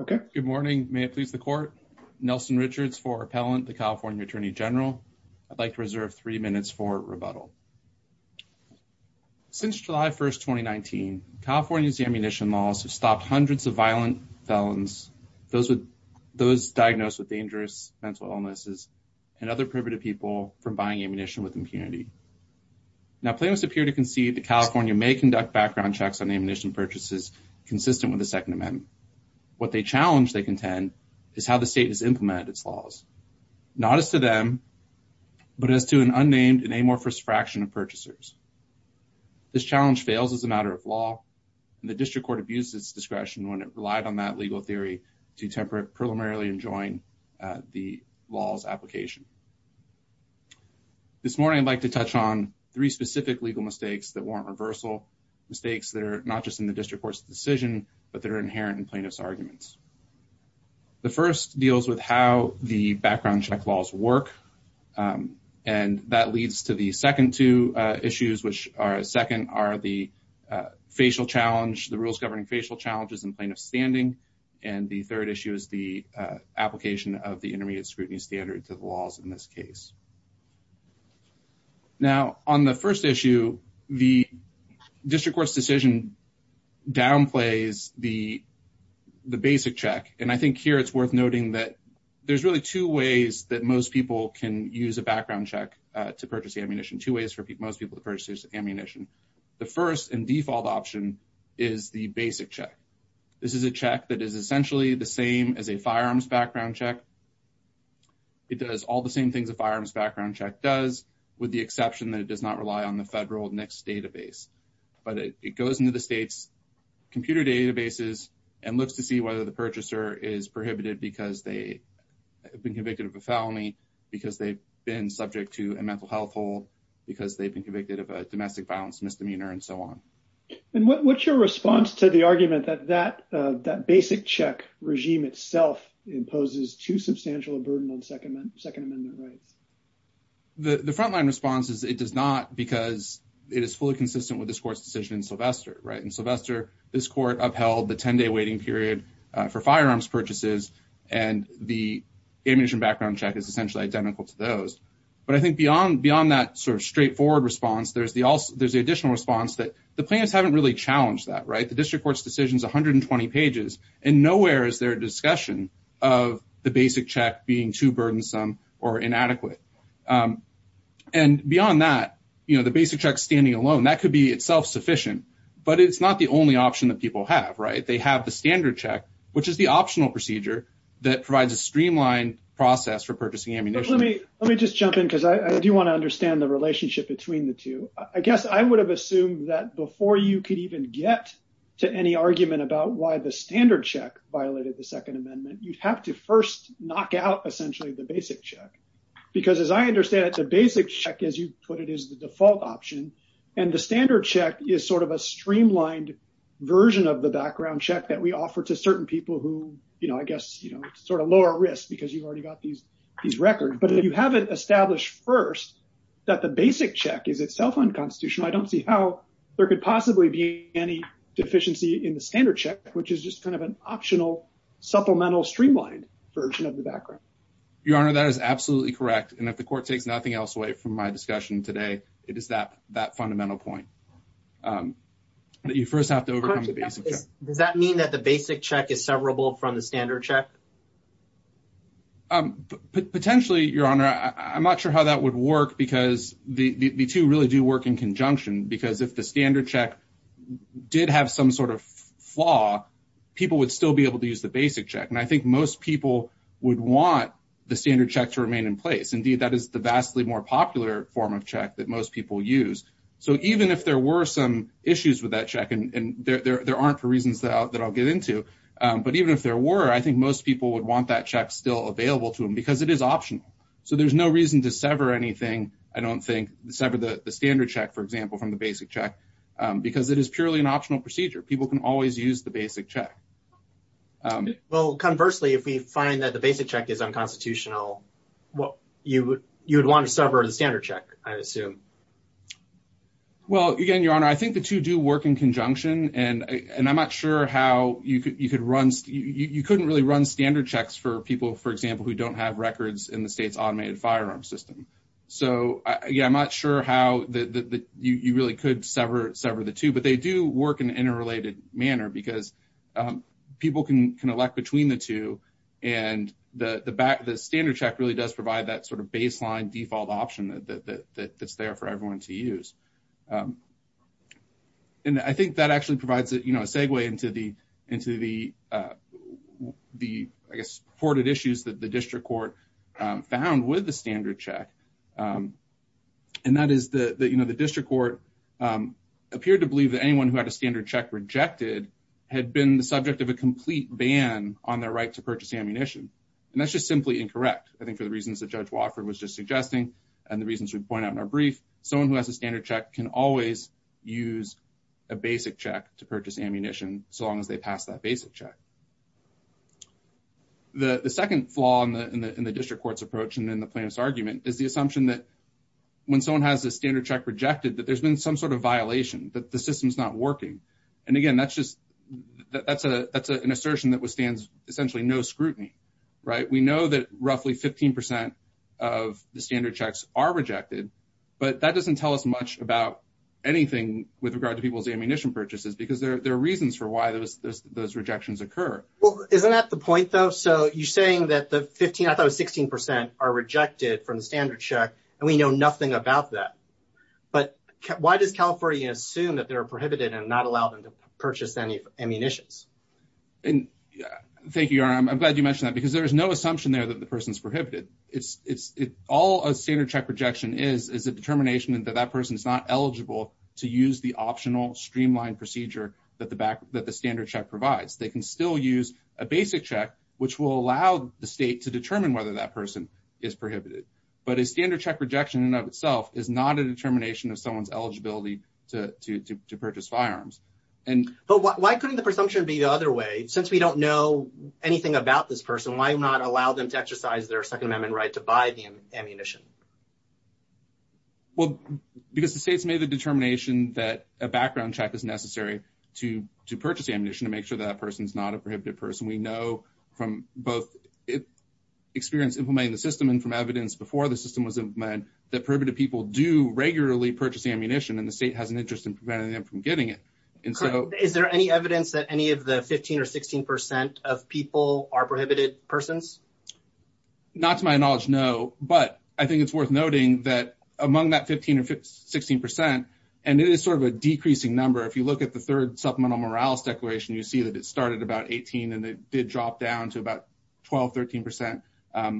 Okay. Good morning. May it please the court. Nelson Richards for Appellant, the California Attorney General. I'd like to reserve three minutes for rebuttal. Since July 1, 2019, California's ammunition laws have stopped hundreds of violent felons, those diagnosed with dangerous mental illnesses, and other prohibited people from buying ammunition with impunity. Now, plaintiffs appear to concede that California may conduct background checks on ammunition purchases consistent with the Second Amendment. What they challenge, they contend, is how the state has implemented its laws. Not as to them, but as to an unnamed and amorphous fraction of purchasers. This challenge fails as a matter of law, and the district court abused its discretion when it relied on that legal theory to temporarily enjoin the law's application. This morning, I'd like to touch on three specific legal mistakes that warrant reversal. Mistakes that are not just in the district court's decision, but that are inherent in plaintiff's arguments. The first deals with how the background check laws work, and that leads to the second two issues, which are, second, are the facial challenge, the rules governing facial challenges in plaintiff's standing, and the third issue is the application of the intermediate scrutiny standard to the laws in this case. Now, on the first issue, the district court's decision downplays the basic check, and I think here it's worth noting that there's really two ways that most people can use a background check to purchase ammunition, two ways for most people to purchase ammunition. The first and default option is the basic check. This is a check that is essentially the same as a firearms background check. It does all the same things a firearms background check does, with the exception that it does not rely on the federal NICS database, but it goes into the state's computer databases and looks to see whether the purchaser is prohibited because they have been convicted of a felony, because they've been subject to a mental health hold, because they've been convicted of a domestic violence misdemeanor, and so on. And what's your response to the argument that that basic check regime itself imposes too substantial a burden on Second Amendment rights? The frontline response is it does not because it is fully consistent with this court's decision in Sylvester, right? In Sylvester, this court upheld the 10-day waiting period for firearms purchases, and the ammunition background check is essentially identical to those, but I think beyond that sort of straightforward response, there's the additional response that the plaintiffs haven't really challenged that, right? The district court's decision is 120 pages, and nowhere is there a discussion of the basic check being too burdensome or inadequate. And beyond that, the basic check standing alone, that could be itself sufficient, but it's not the only option that people have, right? They have the standard check, which is the optional procedure that provides a streamlined process for purchasing ammunition. Let me just jump in because I do want to I guess I would have assumed that before you could even get to any argument about why the standard check violated the Second Amendment, you'd have to first knock out essentially the basic check. Because as I understand it, the basic check, as you put it, is the default option, and the standard check is sort of a streamlined version of the background check that we offer to certain people who, I guess, sort of lower risk because you've already got these records. But if you haven't established first that the basic check is itself unconstitutional, I don't see how there could possibly be any deficiency in the standard check, which is just kind of an optional supplemental streamlined version of the background. Your Honor, that is absolutely correct. And if the court takes nothing else away from my discussion today, it is that fundamental point that you first have to overcome the basic check. Does that mean that the basic check is severable from the standard check? Potentially, Your Honor. I'm not sure how that would work because the two really do work in conjunction. Because if the standard check did have some sort of flaw, people would still be able to use the basic check. And I think most people would want the standard check to remain in place. Indeed, that is the vastly more popular form of check that most people use. So even if there were some issues with that check, and there aren't for reasons that I'll get into, but even if there were, I think most people would want that check still available to them, because it is optional. So there's no reason to sever anything, I don't think, sever the standard check, for example, from the basic check, because it is purely an optional procedure. People can always use the basic check. Well, conversely, if we find that the basic check is unconstitutional, you would want to sever the standard check, I assume. Well, again, Your Honor, I think the two do work in conjunction. And I'm not sure how you could run, you couldn't really run standard checks for people, for example, who don't have records in the state's automated firearm system. So yeah, I'm not sure how you really could sever the two. But they do work in an interrelated manner, because people can elect between the two. And the standard check really does provide that sort of baseline default option that's there for everyone to use. And I think that actually provides a segue into the, I guess, reported issues that the district court found with the standard check. And that is that the district court appeared to believe that anyone who had a standard check rejected had been the subject of a complete ban on their right to purchase ammunition. And that's just simply incorrect. I think for the reasons that Judge Wofford was just suggesting, and the reasons we point out in our brief, someone who has a standard check can always use a basic check to purchase ammunition, so long as they pass that basic check. The second flaw in the district court's approach and in the plaintiff's argument is the assumption that when someone has a standard check rejected, that there's been some sort of violation, that the system's not working. And again, that's an assertion that withstands essentially no scrutiny, right? We know that roughly 15% of the standard checks are rejected, but that doesn't tell us much about anything with regard to people's ammunition purchases, because there are reasons for why those rejections occur. Well, isn't that the point, though? So you're saying that the 15, I thought it was 16%, are rejected from the standard check, and we know nothing about that. But why does California assume that they're prohibited and not allow them to purchase any ammunitions? Thank you, Your Honor. I'm glad you mentioned that, because there is no assumption there that the person's prohibited. All a standard check rejection is is a determination that that person is not eligible to use the optional streamlined procedure that the standard check provides. They can still use a basic check, which will allow the state to determine whether that person is prohibited. But a standard check rejection in and of itself is not a determination of someone's eligibility to purchase firearms. But why couldn't the presumption be the other way? Since we don't know anything about this person, why not allow them to exercise their Second Ammunition? Well, because the state's made the determination that a background check is necessary to purchase ammunition to make sure that person's not a prohibited person. We know from both experience implementing the system and from evidence before the system was implemented that prohibited people do regularly purchase ammunition, and the state has an interest in preventing them from getting it. Is there any evidence that any of the 15 or 16% of people are prohibited persons? Not to my knowledge, no. But I think it's worth noting that among that 15 or 16%, and it is sort of a decreasing number, if you look at the third Supplemental Morales Declaration, you see that it started about 18 and it did drop down to about 12-13%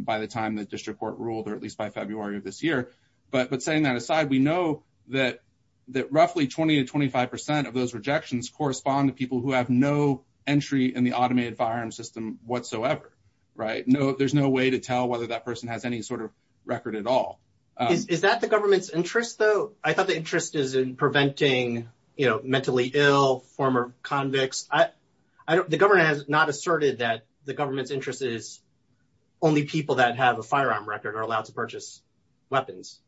by the time the district court ruled, or at least by February of this year. But saying that aside, we know that roughly 20-25% of those rejections correspond to people who have no entry in the automated firearm system whatsoever, right? There's no way to tell whether that person has any sort of record at all. Is that the government's interest, though? I thought the interest is in preventing, you know, mentally ill former convicts. The government has not asserted that the government's interest is only people that have a firearm record are allowed to purchase weapons.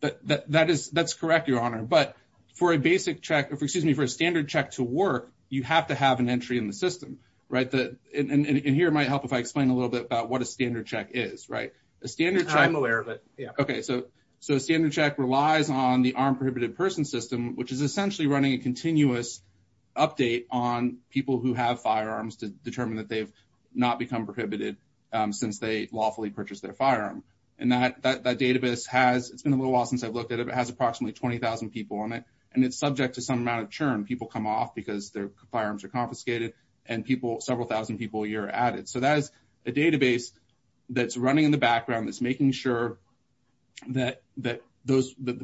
That's correct, Your Honor. But for a basic check, excuse me, for a standard check to work, you have to have entry in the system, right? And here it might help if I explain a little bit about what a standard check is, right? I'm aware of it, yeah. Okay, so a standard check relies on the armed prohibited person system, which is essentially running a continuous update on people who have firearms to determine that they've not become prohibited since they lawfully purchased their firearm. And that database has, it's been a little while since I've looked at it, but it has approximately 20,000 people on it. And it's subject to some amount of churn. People come off because firearms are confiscated and people, several thousand people a year are added. So that is a database that's running in the background that's making sure that the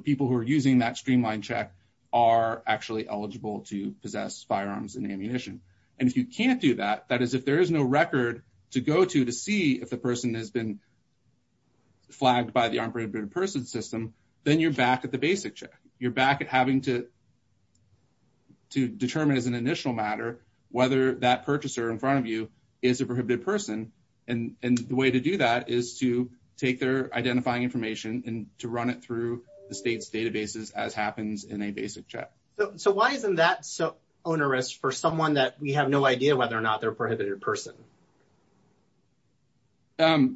people who are using that streamlined check are actually eligible to possess firearms and ammunition. And if you can't do that, that is if there is no record to go to to see if the person has been flagged by the armed prohibited person system, then you're back at the basic check. You're back having to determine as an initial matter whether that purchaser in front of you is a prohibited person. And the way to do that is to take their identifying information and to run it through the state's databases as happens in a basic check. So why isn't that so onerous for someone that we have no idea whether or not they're a prohibited person? I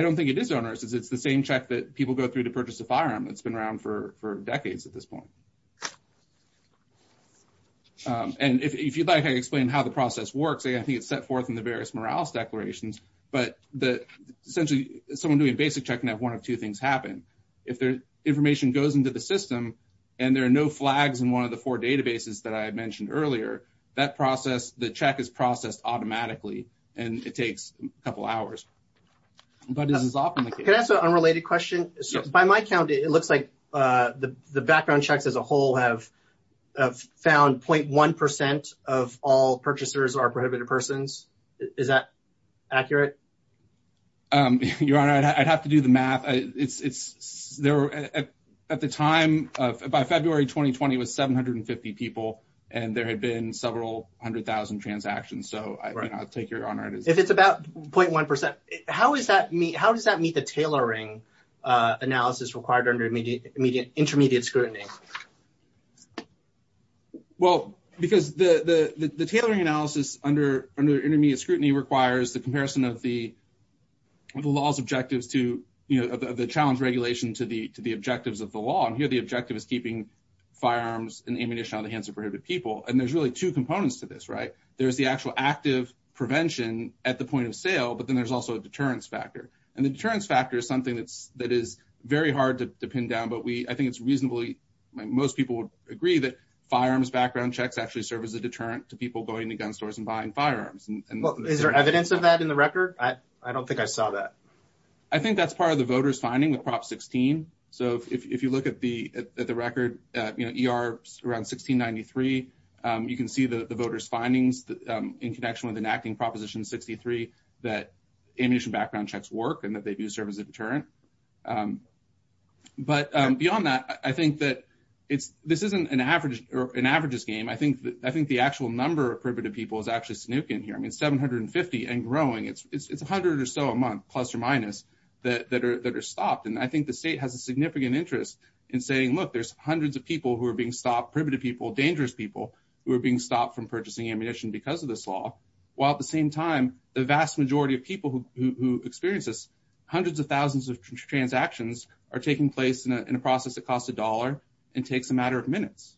don't think it is onerous. It's the same check that people go through to purchase a firearm that's been around for decades at this point. And if you'd like, I can explain how the process works. I think it's set forth in the various Morales declarations, but essentially someone doing a basic check can have one of two things happen. If their information goes into the system and there are no flags in one of the four databases that I mentioned earlier, that process, the check is processed automatically and it takes a couple hours. But this is often the case. Can I ask an unrelated question? By my count, it looks like the background checks as a whole have found 0.1% of all purchasers are prohibited persons. Is that accurate? Your Honor, I'd have to do the math. At the time, by February 2020, it was 750 people and there had been several hundred thousand transactions. So I'll take If it's about 0.1%, how does that meet the tailoring analysis required under intermediate scrutiny? Well, because the tailoring analysis under intermediate scrutiny requires the comparison of the law's objectives to the challenge regulation to the objectives of the law. And here the objective is keeping firearms and ammunition out of the hands of prohibited people. And there's really two components to this, right? There's the actual active prevention at the point of sale, but then there's also a deterrence factor. And the deterrence factor is something that is very hard to pin down, but I think it's reasonably, most people would agree that firearms background checks actually serve as a deterrent to people going to gun stores and buying firearms. Is there evidence of that in the record? I don't think I saw that. I think that's part of the voter's finding with Prop 16. So if you look at the record, ER around 1693, you can see the voter's findings in connection with enacting Proposition 63 that ammunition background checks work and that they do serve as a deterrent. But beyond that, I think that this isn't an averages game. I think the actual number of prohibited people is actually snooking here. I mean, 750 and growing. It's 100 or so a month, plus or minus, that are stopped. And I think the state has a significant interest in saying, look, there's hundreds of people who are being stopped, prohibited people, dangerous people, who are being stopped from purchasing ammunition because of this law, while at the same time, the vast majority of people who experience this, hundreds of thousands of transactions are taking place in a process that costs a dollar and takes a matter of minutes.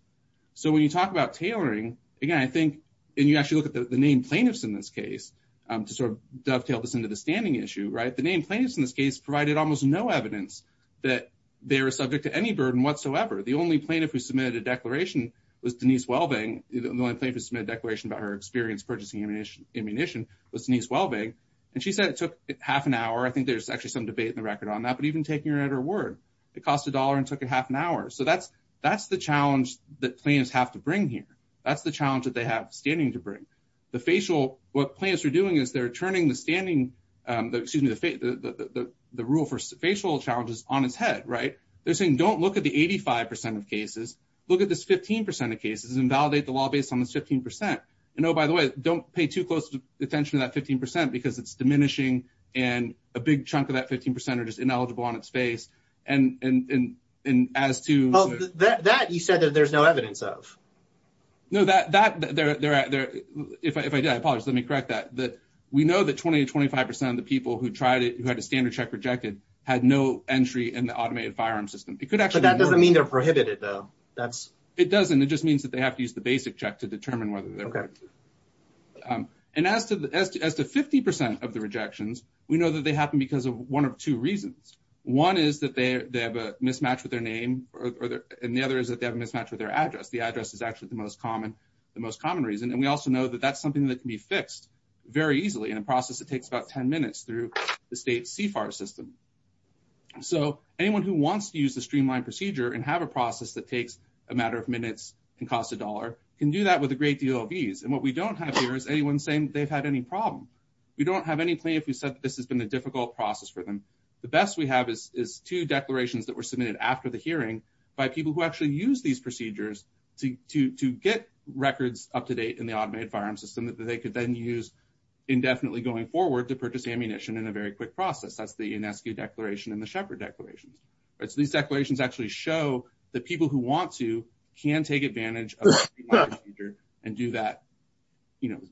So when you talk about tailoring, again, I think, and you actually look at the name plaintiffs in this case, to sort of dovetail this into the standing issue, right? The name plaintiffs in this case provided almost no evidence that they were subject to any burden whatsoever. The only plaintiff who submitted a declaration was Denise Welbing. The only plaintiff who submitted a declaration about her experience purchasing ammunition was Denise Welbing. And she said it took half an hour. I think there's actually some debate in the record on that, but even taking her at her word, it cost a dollar and took a half an hour. So that's the challenge that plaintiffs have to bring here. That's the challenge that they have standing to bring. The facial, what the rule for facial challenges on his head, right? They're saying, don't look at the 85% of cases. Look at this 15% of cases and validate the law based on the 15%. And oh, by the way, don't pay too close attention to that 15% because it's diminishing and a big chunk of that 15% are just ineligible on its face. And as to- Well, that you said that there's no evidence of. No, that, if I did, I apologize. Let me correct that. We know that 20 to 25% of the people who had a standard check rejected had no entry in the automated firearm system. It could actually- But that doesn't mean they're prohibited though. That's- It doesn't. It just means that they have to use the basic check to determine whether they're- Okay. And as to 50% of the rejections, we know that they happen because of one of two reasons. One is that they have a mismatch with their name and the other is that they have a mismatch with their address. The address is actually the most common reason. And we also know that that's something that can be fixed very easily in a process that takes about 10 minutes through the state's CFAR system. So anyone who wants to use the streamlined procedure and have a process that takes a matter of minutes and costs a dollar can do that with a great deal of ease. And what we don't have here is anyone saying they've had any problem. We don't have any plaintiff who said that this has been a difficult process for them. The best we have is two declarations that were submitted after the hearing by people who actually use these procedures to get records up to date in the automated firearm system that they could then use indefinitely going forward to purchase ammunition in a very quick process. That's the UNESCO declaration and the shepherd declarations. So these declarations actually show that people who want to can take advantage of and do that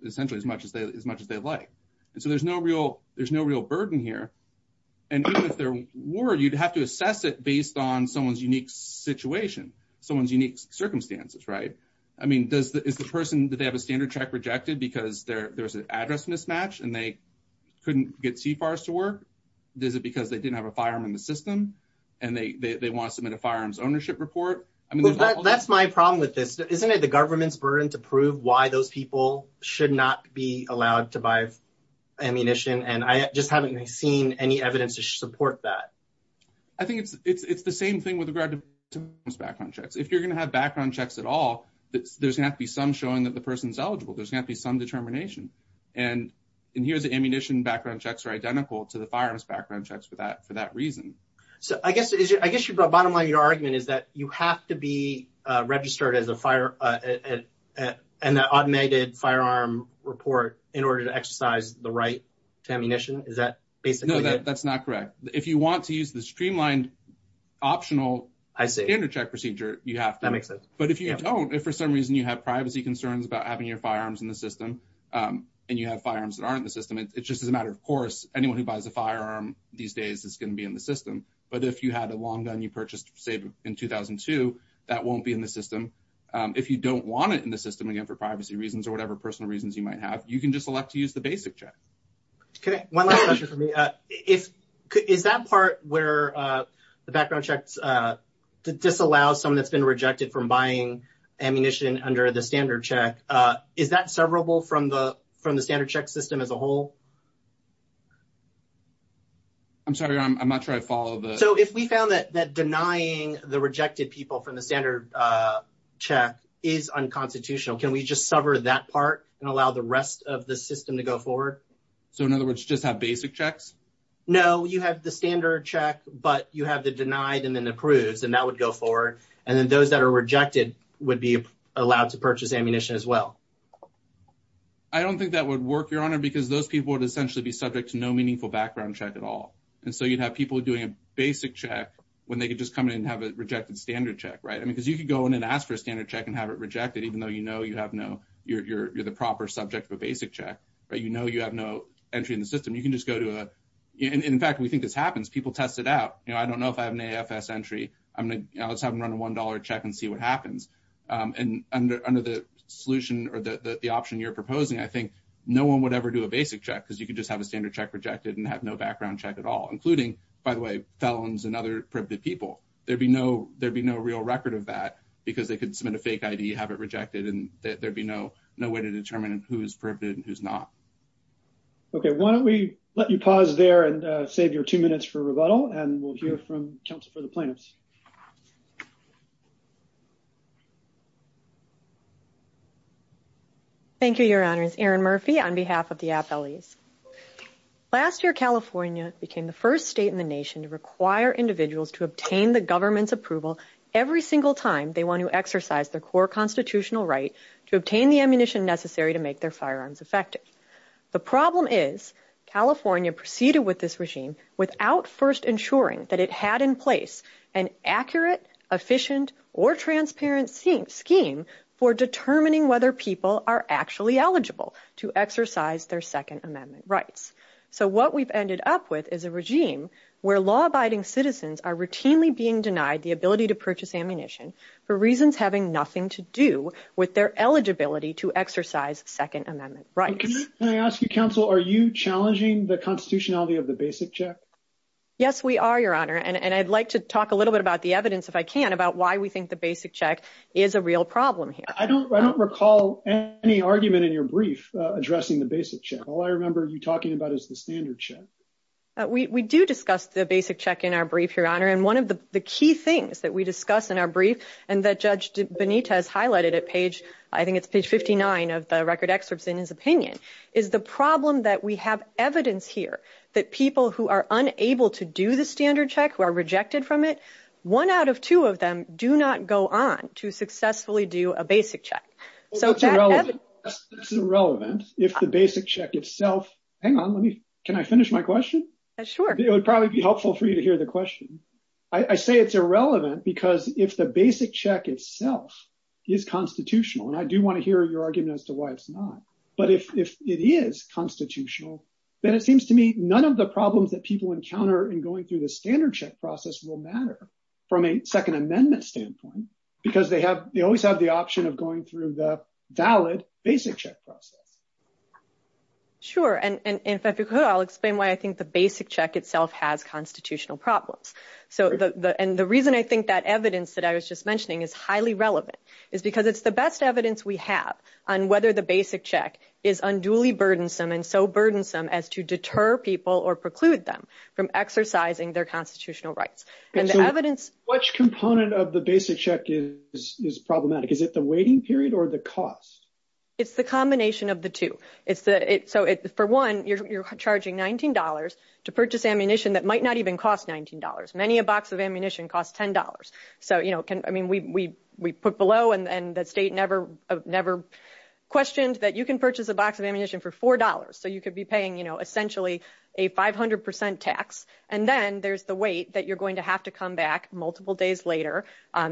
essentially as much as they'd like. And so there's no real burden here. And even if there were, you'd have to assess it based on someone's unique situation, someone's unique circumstances, right? I mean, is the person that they have a standard check rejected because there's an address mismatch and they couldn't get CFARs to work? Is it because they didn't have a firearm in the system and they want to submit a firearms ownership report? I mean, that's my problem with this. Isn't it the government's burden to prove why those people should not be allowed to buy ammunition? And I just haven't seen any evidence to support that. I think it's the same thing with regard to background checks. If you're going to have background checks at all, there's going to be some showing that the person's eligible. There's going to be some determination. And here's the ammunition background checks are identical to the firearms background checks for that reason. So I guess your bottom line, your argument is that you have to be registered as an automated firearm report in order to exercise the right to ammunition. Is that basically it? No, that's not correct. If you want to use the streamlined optional standard check procedure, you have to. That makes sense. But if you don't, if for some reason you have privacy concerns about having your firearms in the system and you have firearms that aren't in the system, it's just as a matter of course, anyone who buys a firearm these days is going to be in the system. But if you had a long gun you purchased, say in 2002, that won't be in the system. If you don't want it in the system, again, for privacy reasons or whatever personal reasons you might have, you can just select to buy. One last question for me. Is that part where the background checks disallow someone that's been rejected from buying ammunition under the standard check, is that severable from the standard check system as a whole? I'm sorry, I'm not sure I follow. So if we found that denying the rejected people from the standard check is unconstitutional, can we just sever that part and allow the rest of the system to go forward? So in other words, just have basic checks? No, you have the standard check, but you have the denied and then approves, and that would go forward. And then those that are rejected would be allowed to purchase ammunition as well. I don't think that would work, Your Honor, because those people would essentially be subject to no meaningful background check at all. And so you'd have people doing a basic check when they could just come in and have a rejected standard check, right? I mean, because you could go in and ask for a standard check and have it rejected, even though you know you have no, you're the proper subject of a basic check, right? You know you have no entry in the system. You can just go to a, and in fact, we think this happens. People test it out. You know, I don't know if I have an AFS entry. Let's have them run a $1 check and see what happens. And under the solution or the option you're proposing, I think no one would ever do a basic check because you could just have a standard check rejected and have no background check at all, including, by the way, felons and other privileged people. There'd be no real record of that because they could submit a fake ID, have it rejected, and there'd be no way to determine who is prohibited and who's not. Okay, why don't we let you pause there and save your two minutes for rebuttal, and we'll hear from counsel for the plaintiffs. Thank you, Your Honors. Erin Murphy on behalf of the AFL-E's. Last year, California became the first state in the nation to require individuals to obtain the government's approval every single time they want to exercise their core constitutional right to obtain the ammunition necessary to make their firearms effective. The problem is California proceeded with this regime without first ensuring that it had in place an accurate, efficient, or transparent scheme for determining whether people are actually eligible to exercise their Second Amendment rights. So what we've ended up with is a regime where law-abiding citizens are routinely being denied the ability to purchase ammunition for reasons having nothing to do with their eligibility to exercise Second Amendment rights. Can I ask you, counsel, are you challenging the constitutionality of the basic check? Yes, we are, Your Honor, and I'd like to talk a little bit about the evidence, if I can, about why we think the basic check is a real problem here. I don't recall any argument in your brief addressing the basic check. All I remember you talking about is the standard check. We do discuss the basic check in our brief, Your Honor, and one of the key things that we discuss in our brief and that Judge Benitez highlighted at page, I think it's page 59 of the record excerpts in his opinion, is the problem that we have evidence here that people who are unable to do the standard check, who are rejected from it, one out of two of them do not go on to successfully do a basic check. That's irrelevant if the basic check itself, hang on, let me, can I finish my question? Sure. It would probably be helpful for you to hear the question. I say it's irrelevant because if the basic check itself is constitutional, and I do want to hear your argument as to why it's not, but if it is constitutional, then it seems to me none of the problems that people encounter in going through the standard check process will matter from a Second Amendment standpoint because they have, they always have the option of going through the valid basic check process. Sure. And if I could, I'll explain why I think the basic check itself has constitutional problems. So the, and the reason I think that evidence that I was just mentioning is highly relevant is because it's the best evidence we have on whether the basic check is unduly burdensome and so burdensome as to deter people or preclude them from exercising their constitutional rights. So which component of the basic check is problematic? Is it the waiting period or the cost? It's the combination of the two. It's the, so for one, you're charging $19 to purchase ammunition that might not even cost $19. Many a box of ammunition costs $10. So, you know, can, I mean, we put below and the state never questioned that you can purchase a box of ammunition for $4. So you could be paying, you know, essentially a 500% tax. And then there's the weight that you're going to have to come back multiple days later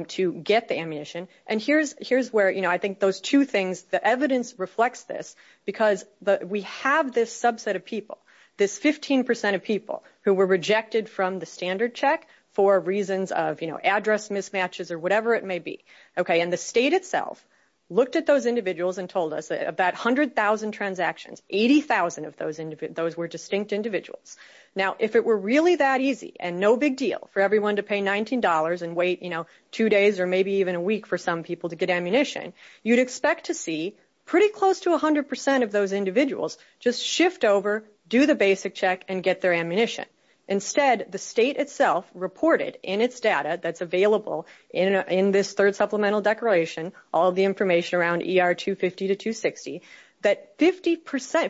to get the ammunition. And here's, here's where, you know, I think those two things, the evidence reflects this because we have this subset of people, this 15% of people who were rejected from the standard check for reasons of, you know, address mismatches or whatever it may be. Okay. And the state itself looked at those individuals and told us that about 100,000 transactions, 80,000 of those, those were distinct individuals. Now, if it were really that easy and no big deal for everyone to pay $19 and wait, you know, two days or maybe even a week for some people to get ammunition, you'd expect to see pretty close to a hundred percent of those individuals just shift over, do the basic check and get their ammunition. Instead, the state itself reported in its data that's available in this third supplemental declaration, all the information around ER 250 to 260, that 50%,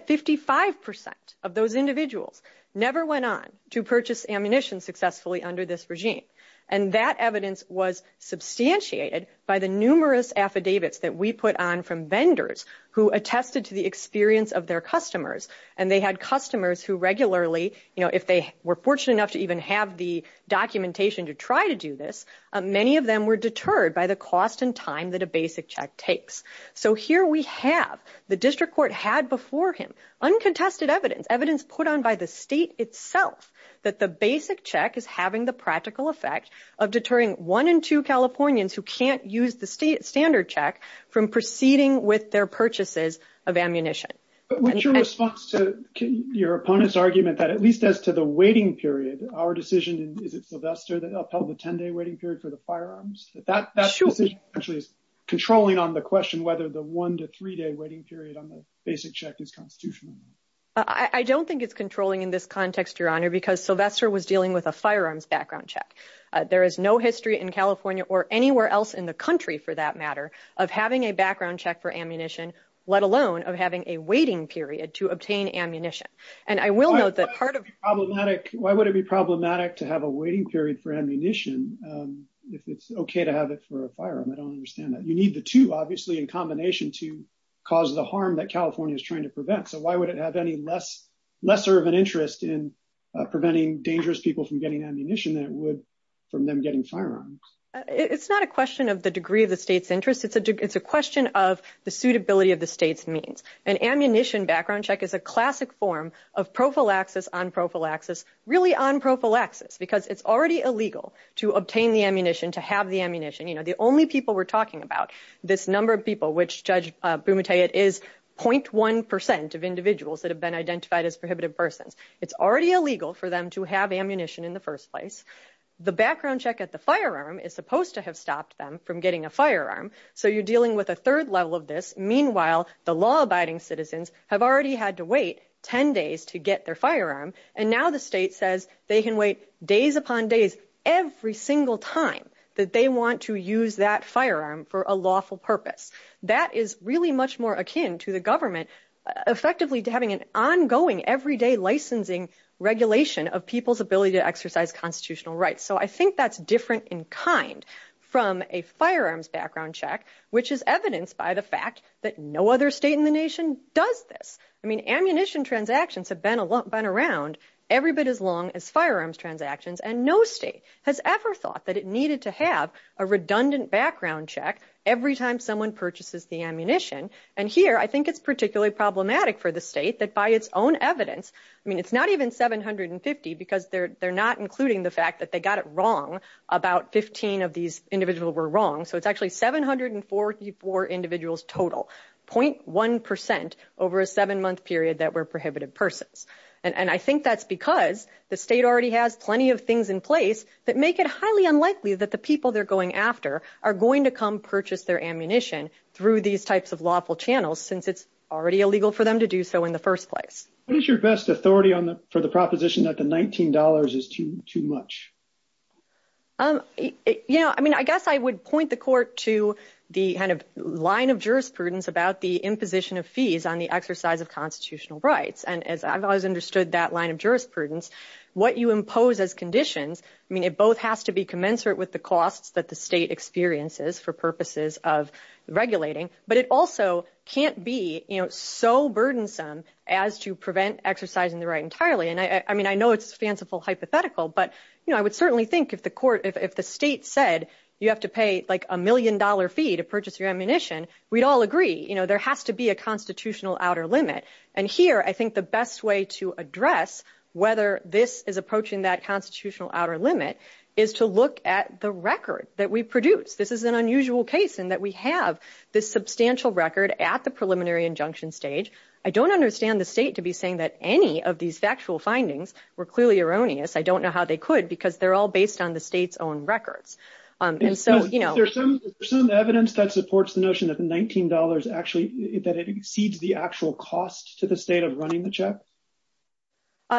55% of those individuals never went on to purchase ammunition successfully under this regime. And that evidence was substantiated by the numerous affidavits that we put on from vendors who attested to the experience of their customers. And they had customers who regularly, you know, if they were fortunate enough to even have the documentation to try to do this, many of them were deterred by the cost and time that a basic check takes. So here we have the district court had before him uncontested evidence, evidence put on by the state itself that the basic check is having the practical effect of deterring one in two Californians who can't use the state standard check from proceeding with their purchases of ammunition. But what's your response to your opponent's argument that at least as to the 10 day waiting period for the firearms, that actually is controlling on the question, whether the one to three day waiting period on the basic check is constitutional. I don't think it's controlling in this context, your honor, because Sylvester was dealing with a firearms background check. There is no history in California or anywhere else in the country for that matter of having a background check for ammunition, let alone of having a waiting period to obtain ammunition. And I will note that part of problematic, why would it be problematic to have a waiting period for ammunition if it's okay to have it for a firearm? I don't understand that. You need the two obviously in combination to cause the harm that California is trying to prevent. So why would it have any lesser of an interest in preventing dangerous people from getting ammunition than it would from them getting firearms? It's not a question of the degree of the state's interest. It's a question of the suitability of the state's means. An because it's already illegal to obtain the ammunition, to have the ammunition. You know, the only people we're talking about, this number of people, which Judge Bumuteh is 0.1% of individuals that have been identified as prohibitive persons. It's already illegal for them to have ammunition in the first place. The background check at the firearm is supposed to have stopped them from getting a firearm. So you're dealing with a third level of this. Meanwhile, the law abiding citizens have already had to wait 10 days to get their firearm. And now the state says they can wait days upon days every single time that they want to use that firearm for a lawful purpose. That is really much more akin to the government effectively having an ongoing everyday licensing regulation of people's ability to exercise constitutional rights. So I think that's different in kind from a firearms background check, which is evidenced by the fact that no other state in the nation does this. I mean, ammunition transactions have been around. Every bit as long as firearms transactions, and no state has ever thought that it needed to have a redundant background check every time someone purchases the ammunition. And here, I think it's particularly problematic for the state that by its own evidence, I mean, it's not even 750 because they're not including the fact that they got it wrong. About 15 of these individuals were wrong. So it's actually 744 individuals total, 0.1% over a seven month period that were prohibited persons. And I think that's because the state already has plenty of things in place that make it highly unlikely that the people they're going after are going to come purchase their ammunition through these types of lawful channels since it's already illegal for them to do so in the first place. What is your best authority for the proposition that the $19 is too much? Yeah, I mean, I guess I would point the court to the kind of line of jurisprudence about the imposition of fees on the exercise of constitutional rights. And as I've always understood that line of jurisprudence, what you impose as conditions, I mean, it both has to be commensurate with the costs that the state experiences for purposes of regulating, but it also can't be so burdensome as to prevent exercising the right entirely. And I mean, I know it's fanciful hypothetical, but I would certainly think if the state said you have to pay like a million dollar fee to be a constitutional outer limit. And here, I think the best way to address whether this is approaching that constitutional outer limit is to look at the record that we produce. This is an unusual case in that we have this substantial record at the preliminary injunction stage. I don't understand the state to be saying that any of these factual findings were clearly erroneous. I don't know how they could because they're all based on the state's own records. And so, there's some evidence that supports the notion that the $19 actually, that it exceeds the actual cost to the state of running the check.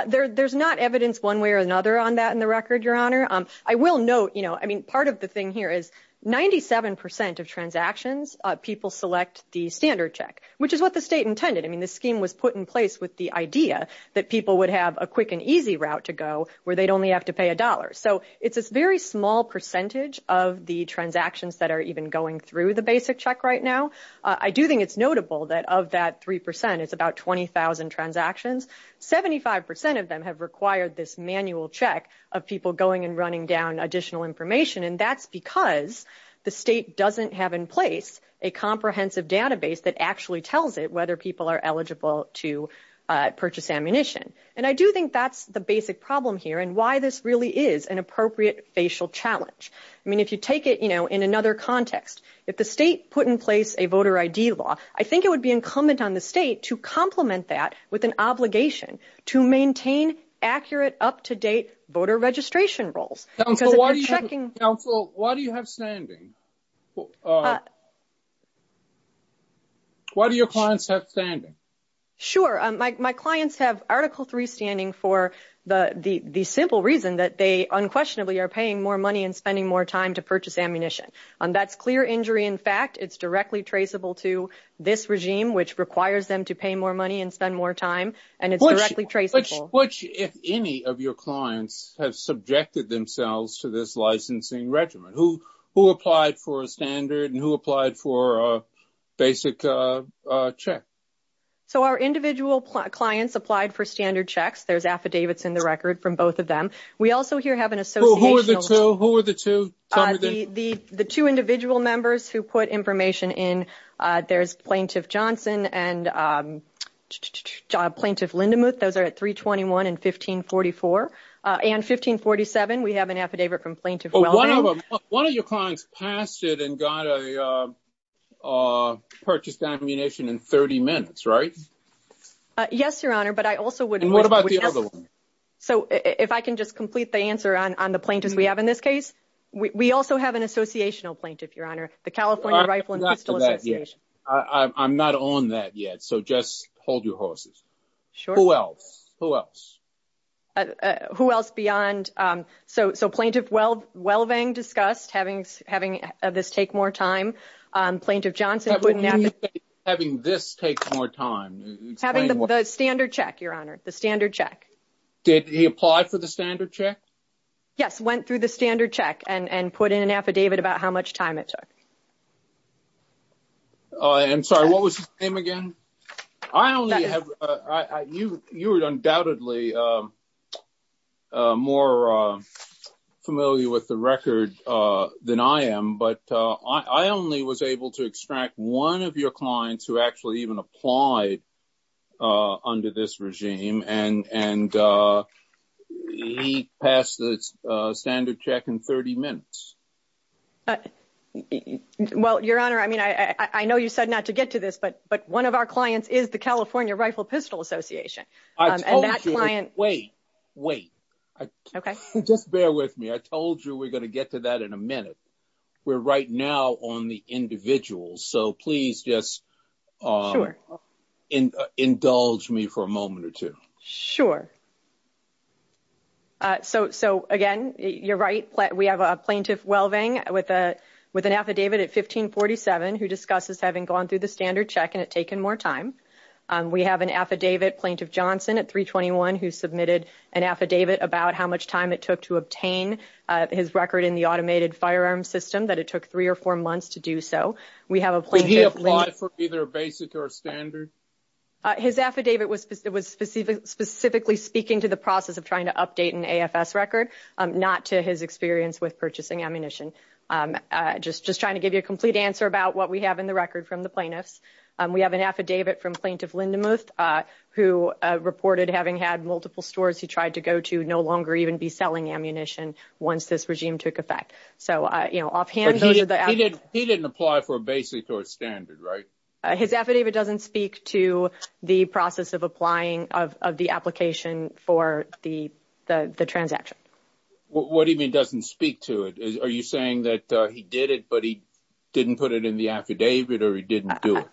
There's not evidence one way or another on that in the record, your honor. I will note, I mean, part of the thing here is 97% of transactions people select the standard check, which is what the state intended. I mean, the scheme was put in place with the idea that people would have a quick and easy route to go where they'd only have to pay a dollar. So, it's a very small percentage of the transactions that are even going through the basic check right now. I do think it's notable that of that 3%, it's about 20,000 transactions. 75% of them have required this manual check of people going and running down additional information. And that's because the state doesn't have in place a comprehensive database that actually tells it whether people are eligible to purchase ammunition. And I do think that's the basic problem here and why this really is an appropriate facial challenge. I mean, if you take it, you know, in another context, if the state put in place a voter ID law, I think it would be incumbent on the state to complement that with an obligation to maintain accurate, up-to-date voter registration rolls. Counsel, why do you have standing? Why do your clients have standing? Sure. My clients have Article 3 standing for the simple reason that they unquestionably are paying more money and spending more time to purchase ammunition. And that's clear injury in fact. It's directly traceable to this regime, which requires them to pay more money and spend more time, and it's directly traceable. If any of your clients have subjected themselves to this licensing regimen, who applied for a standard and who applied for a basic check? So our individual clients applied for standard checks. There's affidavits in the record from both of them. We also here have an association. Who are the two? The two individual members who put information in, there's Plaintiff Johnson and Plaintiff Lindemuth. Those are at 321 and 1544. And 1547, we have an affidavit from Plaintiff Welding. One of your clients passed it and got a purchased ammunition in 30 minutes, right? Yes, Your Honor, but I also would... And what about the other one? So if I can just complete the answer on the plaintiffs we have in this case, we also have an associational plaintiff, Your Honor. The California Rifle and Pistol Association. I'm not on that yet, so just hold your horses. Who else? Who else? Who else beyond... So Plaintiff Welding discussed having this take more time. Plaintiff Johnson... Having this take more time. Having the standard check, Your Honor, the standard check. Did he apply for the standard check? Yes, went through the standard check and put in an affidavit about how much time it took. I'm sorry, what was his name again? I only have... You are undoubtedly more familiar with the record than I am, but I only was able to extract one of your clients who actually even applied under this regime, and he passed the standard check in 30 minutes. Well, Your Honor, I mean, I know you said not to get to this, but one of our clients is the California Rifle and Pistol Association, and that client... Wait, wait. Okay. Just bear with me. I told you we're going to get to that in a minute. We're right now on the individuals, so please just indulge me for a moment or two. Sure. So again, you're right. We have a plaintiff Welvang with an affidavit at 1547 who discusses having gone through the standard check and it taking more time. We have an affidavit, Plaintiff Johnson at 321, who submitted an affidavit about how much time it took to obtain his record in the automated firearm system, that it took three or four months to do so. We have a plaintiff... Did he apply for either a basic or a standard? His affidavit was specifically speaking to the process of trying to update an AFS record, not to his experience with purchasing ammunition. Just trying to give you a complete answer about what we have in the record from the plaintiffs. We have an affidavit from Plaintiff Lindemuth, who reported having had multiple stores he tried to go to no longer even be selling ammunition once this regime took effect. So offhand, those are the... He didn't apply for a basic or a standard, right? His affidavit doesn't speak to the process of applying of the application for the transaction. What do you mean doesn't speak to it? Are you saying that he did it, but he didn't put it in the affidavit, or he didn't do it?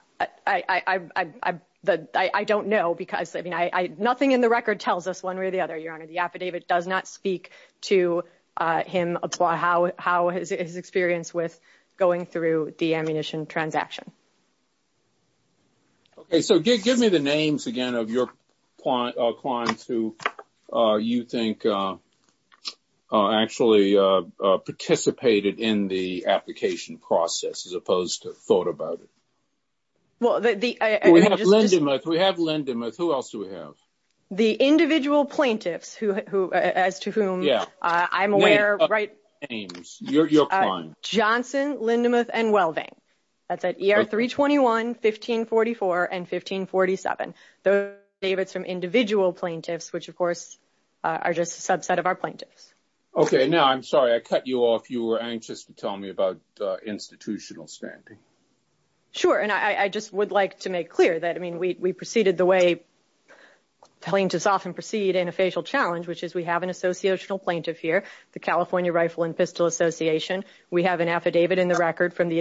I don't know because, I mean, nothing in the record tells us one way or the other, Your Honor. The affidavit does not speak to him, how his experience with going through the ammunition transaction. Okay, so give me the names again of your clients who you think actually participated in the application process, as opposed to thought about it. We have Lindemuth. Who else do we have? The individual plaintiffs who, as to whom I'm aware... Name of names. Your client. Johnson, Lindemuth, and Wellving. That's at ER 321, 1544, and 1547. Those affidavits from individual plaintiffs, which, of course, are just a subset of our plaintiffs. Okay, now I'm sorry. I cut you off. You were anxious to tell me about institutional standing. Sure, and I just would like to make clear that, I mean, we proceeded the way plaintiffs often proceed in a facial challenge, which is we have an associational plaintiff here, the California Rifle and Pistol Association. We have an affidavit in the record from the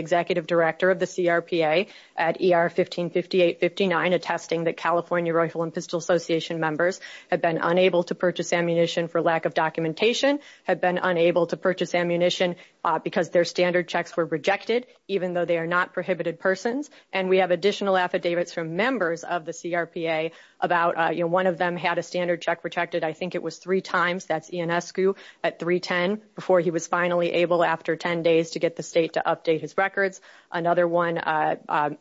California Rifle and Pistol Association members who have been unable to purchase ammunition for lack of documentation, have been unable to purchase ammunition because their standard checks were rejected, even though they are not prohibited persons. And we have additional affidavits from members of the CRPA about, you know, one of them had a standard check rejected, I think it was three times. That's Ian Escu at 310, before he was finally able, after 10 days, to get the state to update his records. Another one,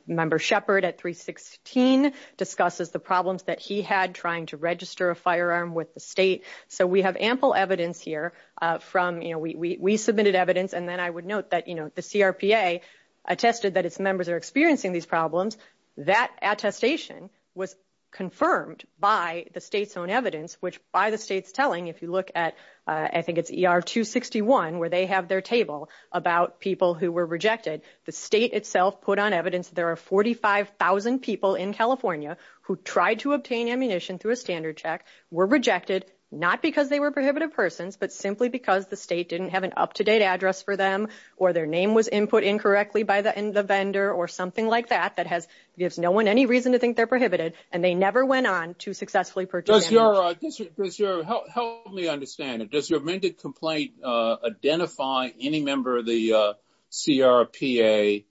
Member Shepard at 316, discusses the problems that he had trying to register a firearm with the state. So we have ample evidence here from, you know, we submitted evidence, and then I would note that, you know, the CRPA attested that its members are experiencing these problems. That attestation was confirmed by the state's own evidence, which by the state's telling, if you look at, I think it's ER 261, where they have their table about people who were rejected, the state itself put on evidence there are 45,000 people in California who tried to obtain ammunition through a standard check, were rejected, not because they were prohibited persons, but simply because the state didn't have an up-to-date address for them, or their name was input incorrectly by the vendor, or something like that, that has, gives no one any reason to think they're prohibited, and they never went on to successfully purchase ammunition. Does your, help me understand it, does your amended complaint identify any member of the CRPA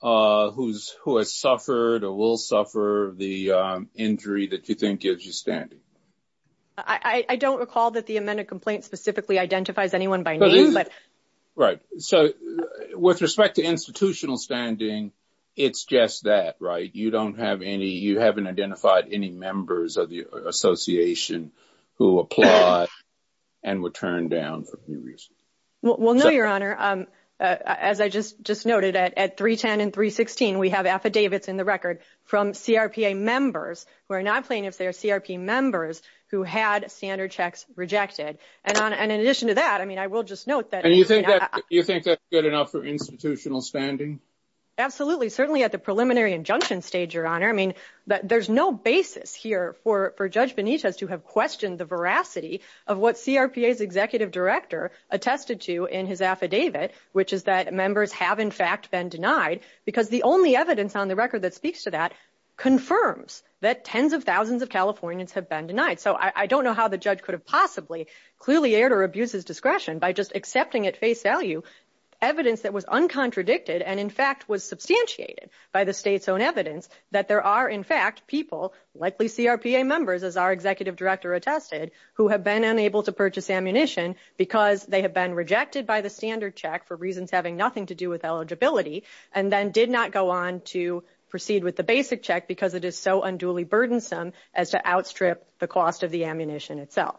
who has suffered or will suffer the injury that you think gives you standing? I don't recall that the amended complaint specifically identifies anyone by name, but. Right, so with respect to institutional standing, it's just that, right? You don't have any, you haven't identified any members of the association who applied and were turned down for any reason. Well, no, your honor. As I just noted, at 310 and 316, we have affidavits in the record from CRPA members who are not plaintiffs, they are CRP members who had standard checks rejected. And in addition to that, I mean, I will just note that. And you think that's good enough for institutional standing? Absolutely, certainly at the preliminary injunction stage, your honor. I mean, there's no basis here for Judge Benitez to have questioned the veracity of what CRPA's executive director attested to in his affidavit, which is that members have, in fact, been denied because the only evidence on the record that speaks to that confirms that tens of thousands of Californians have been denied. So I don't know how the judge could have possibly clearly aired or abused his discretion by just accepting at face value evidence that was uncontradicted and in fact was substantiated by the state's own evidence that there are in fact people, likely CRPA members as our executive director attested, who have been unable to purchase ammunition because they have been rejected by the standard check for reasons having nothing to do with eligibility and then did not go on to proceed with the basic check because it is so unduly burdensome as to outstrip the cost of the ammunition itself.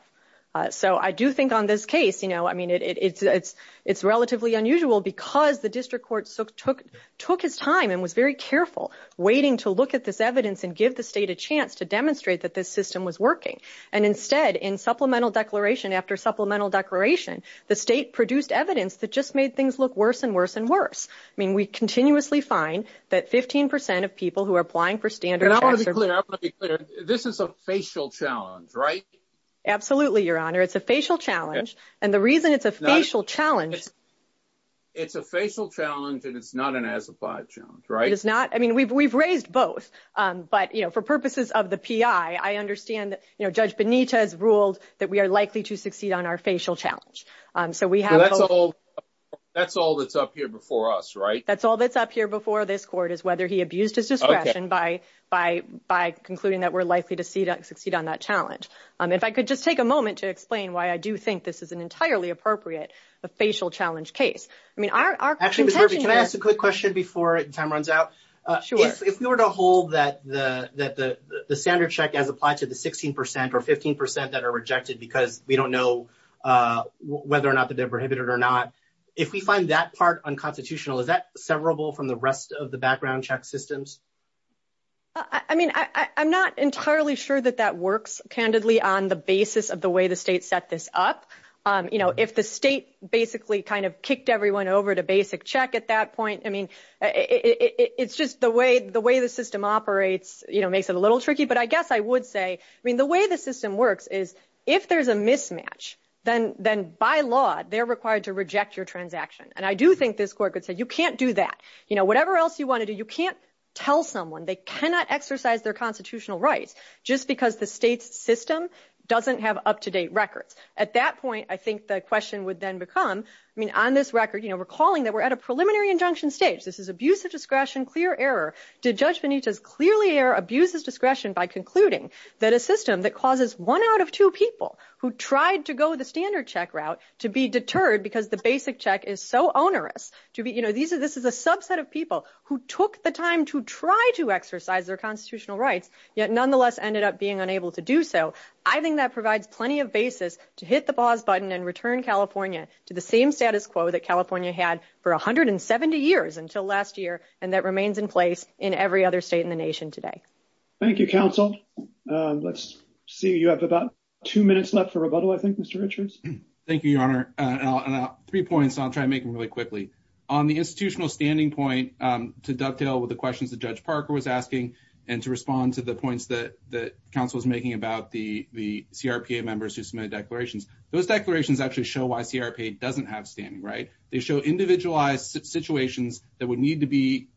So I do think on this case, you know, I mean, it's relatively unusual because the district court took his time and was very careful waiting to look at this evidence and the state a chance to demonstrate that this system was working. And instead in supplemental declaration after supplemental declaration, the state produced evidence that just made things look worse and worse and worse. I mean, we continuously find that 15% of people who are applying for standard. I want to be clear. This is a facial challenge, right? Absolutely, your honor. It's a facial challenge. And the reason it's a facial challenge. It's a facial challenge and it's not an as applied challenge, right? It's not. I mean, we've raised both, but you know, for purposes of the PI, I understand that, you know, judge Benita has ruled that we are likely to succeed on our facial challenge. So we have. That's all that's up here before us, right? That's all that's up here before this court is whether he abused his discretion by, by, by concluding that we're likely to see that succeed on that challenge. If I could just take a moment to explain why I do think this is an entirely appropriate facial challenge case. I mean, our, our, can I ask a quick question before time runs out? If we were to hold that the, that the, the standard check as applied to the 16% or 15% that are rejected because we don't know whether or not that they're prohibited or not. If we find that part unconstitutional, is that severable from the rest of the background check systems? I mean, I, I, I'm not entirely sure that that works candidly on the basis of the way the state set this up. You know, if the state basically kind of kicked everyone over to basic check at that point, I mean, it's just the way, the way the system operates, you know, makes it a little tricky, but I guess I would say, I mean, the way the system works is if there's a mismatch, then, then by law they're required to reject your transaction. And I do think this court could say, you can't do that. You know, whatever else you want to do, you can't tell someone they cannot exercise their constitutional rights just because the state's system doesn't have up-to-date records. At that point, I think the question would then become, I mean, on this record, you know, calling that we're at a preliminary injunction stage. This is abuse of discretion, clear error. Did Judge Benitez clearly abuse his discretion by concluding that a system that causes one out of two people who tried to go the standard check route to be deterred because the basic check is so onerous to be, you know, these are, this is a subset of people who took the time to try to exercise their constitutional rights, yet nonetheless ended up being unable to do so. I think that provides plenty of basis to hit the pause button and return California to the same status quo that California had for 170 years until last year, and that remains in place in every other state in the nation today. Thank you, counsel. Let's see, you have about two minutes left for rebuttal, I think, Mr. Richards. Thank you, Your Honor. Three points, I'll try and make them really quickly. On the institutional standing point, to dovetail with the questions that Judge Parker was asking and to respond to the points that the counsel was making about the CRPA members who They show individualized situations that would need to be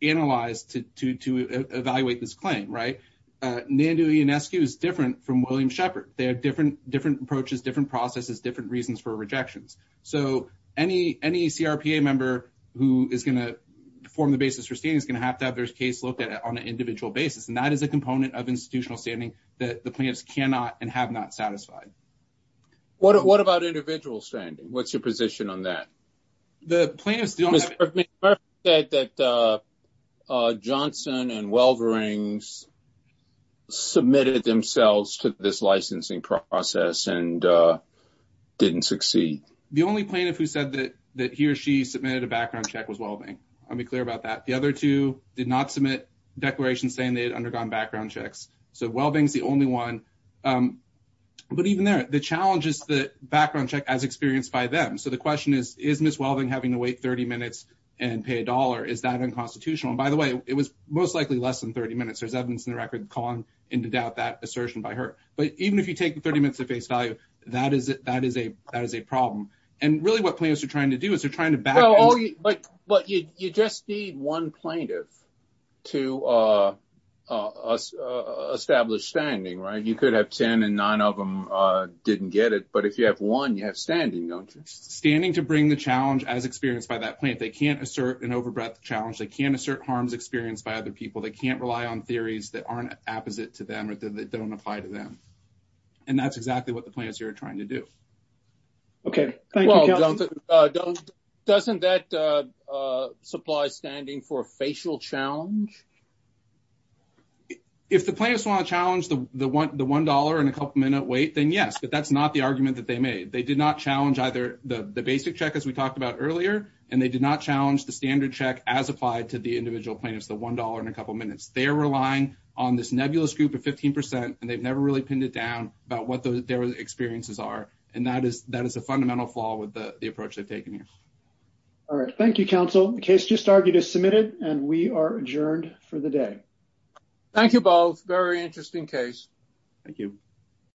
analyzed to evaluate this claim, right? Nandu Ionescu is different from William Shepard. They have different approaches, different processes, different reasons for rejections. So any CRPA member who is going to form the basis for standing is going to have to have their case looked at on an individual basis, and that is a component of institutional standing that the plaintiffs cannot and have not satisfied. What about individual standing? What's your position on that? The plaintiff said that Johnson and Welving submitted themselves to this licensing process and didn't succeed. The only plaintiff who said that he or she submitted a background check was Welving. I'll be clear about that. The other two did not submit declarations saying they had undergone background checks. So Welving is the only one. But even there, the challenge is the background check as experienced by them. So the question is, is Ms. Welving having to wait 30 minutes and pay a dollar? Is that unconstitutional? And by the way, it was most likely less than 30 minutes. There's evidence in the record calling into doubt that assertion by her. But even if you take 30 minutes at face value, that is a problem. And really what plaintiffs are trying to do is they're established standing, right? You could have 10 and nine of them didn't get it. But if you have one, you have standing, don't you? Standing to bring the challenge as experienced by that plaintiff. They can't assert an over-breath challenge. They can't assert harms experienced by other people. They can't rely on theories that aren't opposite to them or that don't apply to them. And that's exactly what the plaintiffs are trying to do. Okay. Thank you. Well, if the plaintiffs want to challenge the $1 and a couple minute wait, then yes, but that's not the argument that they made. They did not challenge either the basic check as we talked about earlier, and they did not challenge the standard check as applied to the individual plaintiffs, the $1 and a couple minutes. They're relying on this nebulous group of 15% and they've never really pinned it down about what their experiences are. And that is a fundamental flaw with the approach they've taken here. All right. Thank you, counsel. The case just argued is submitted and we are adjourned for the day. Thank you both. Very interesting case. Thank you.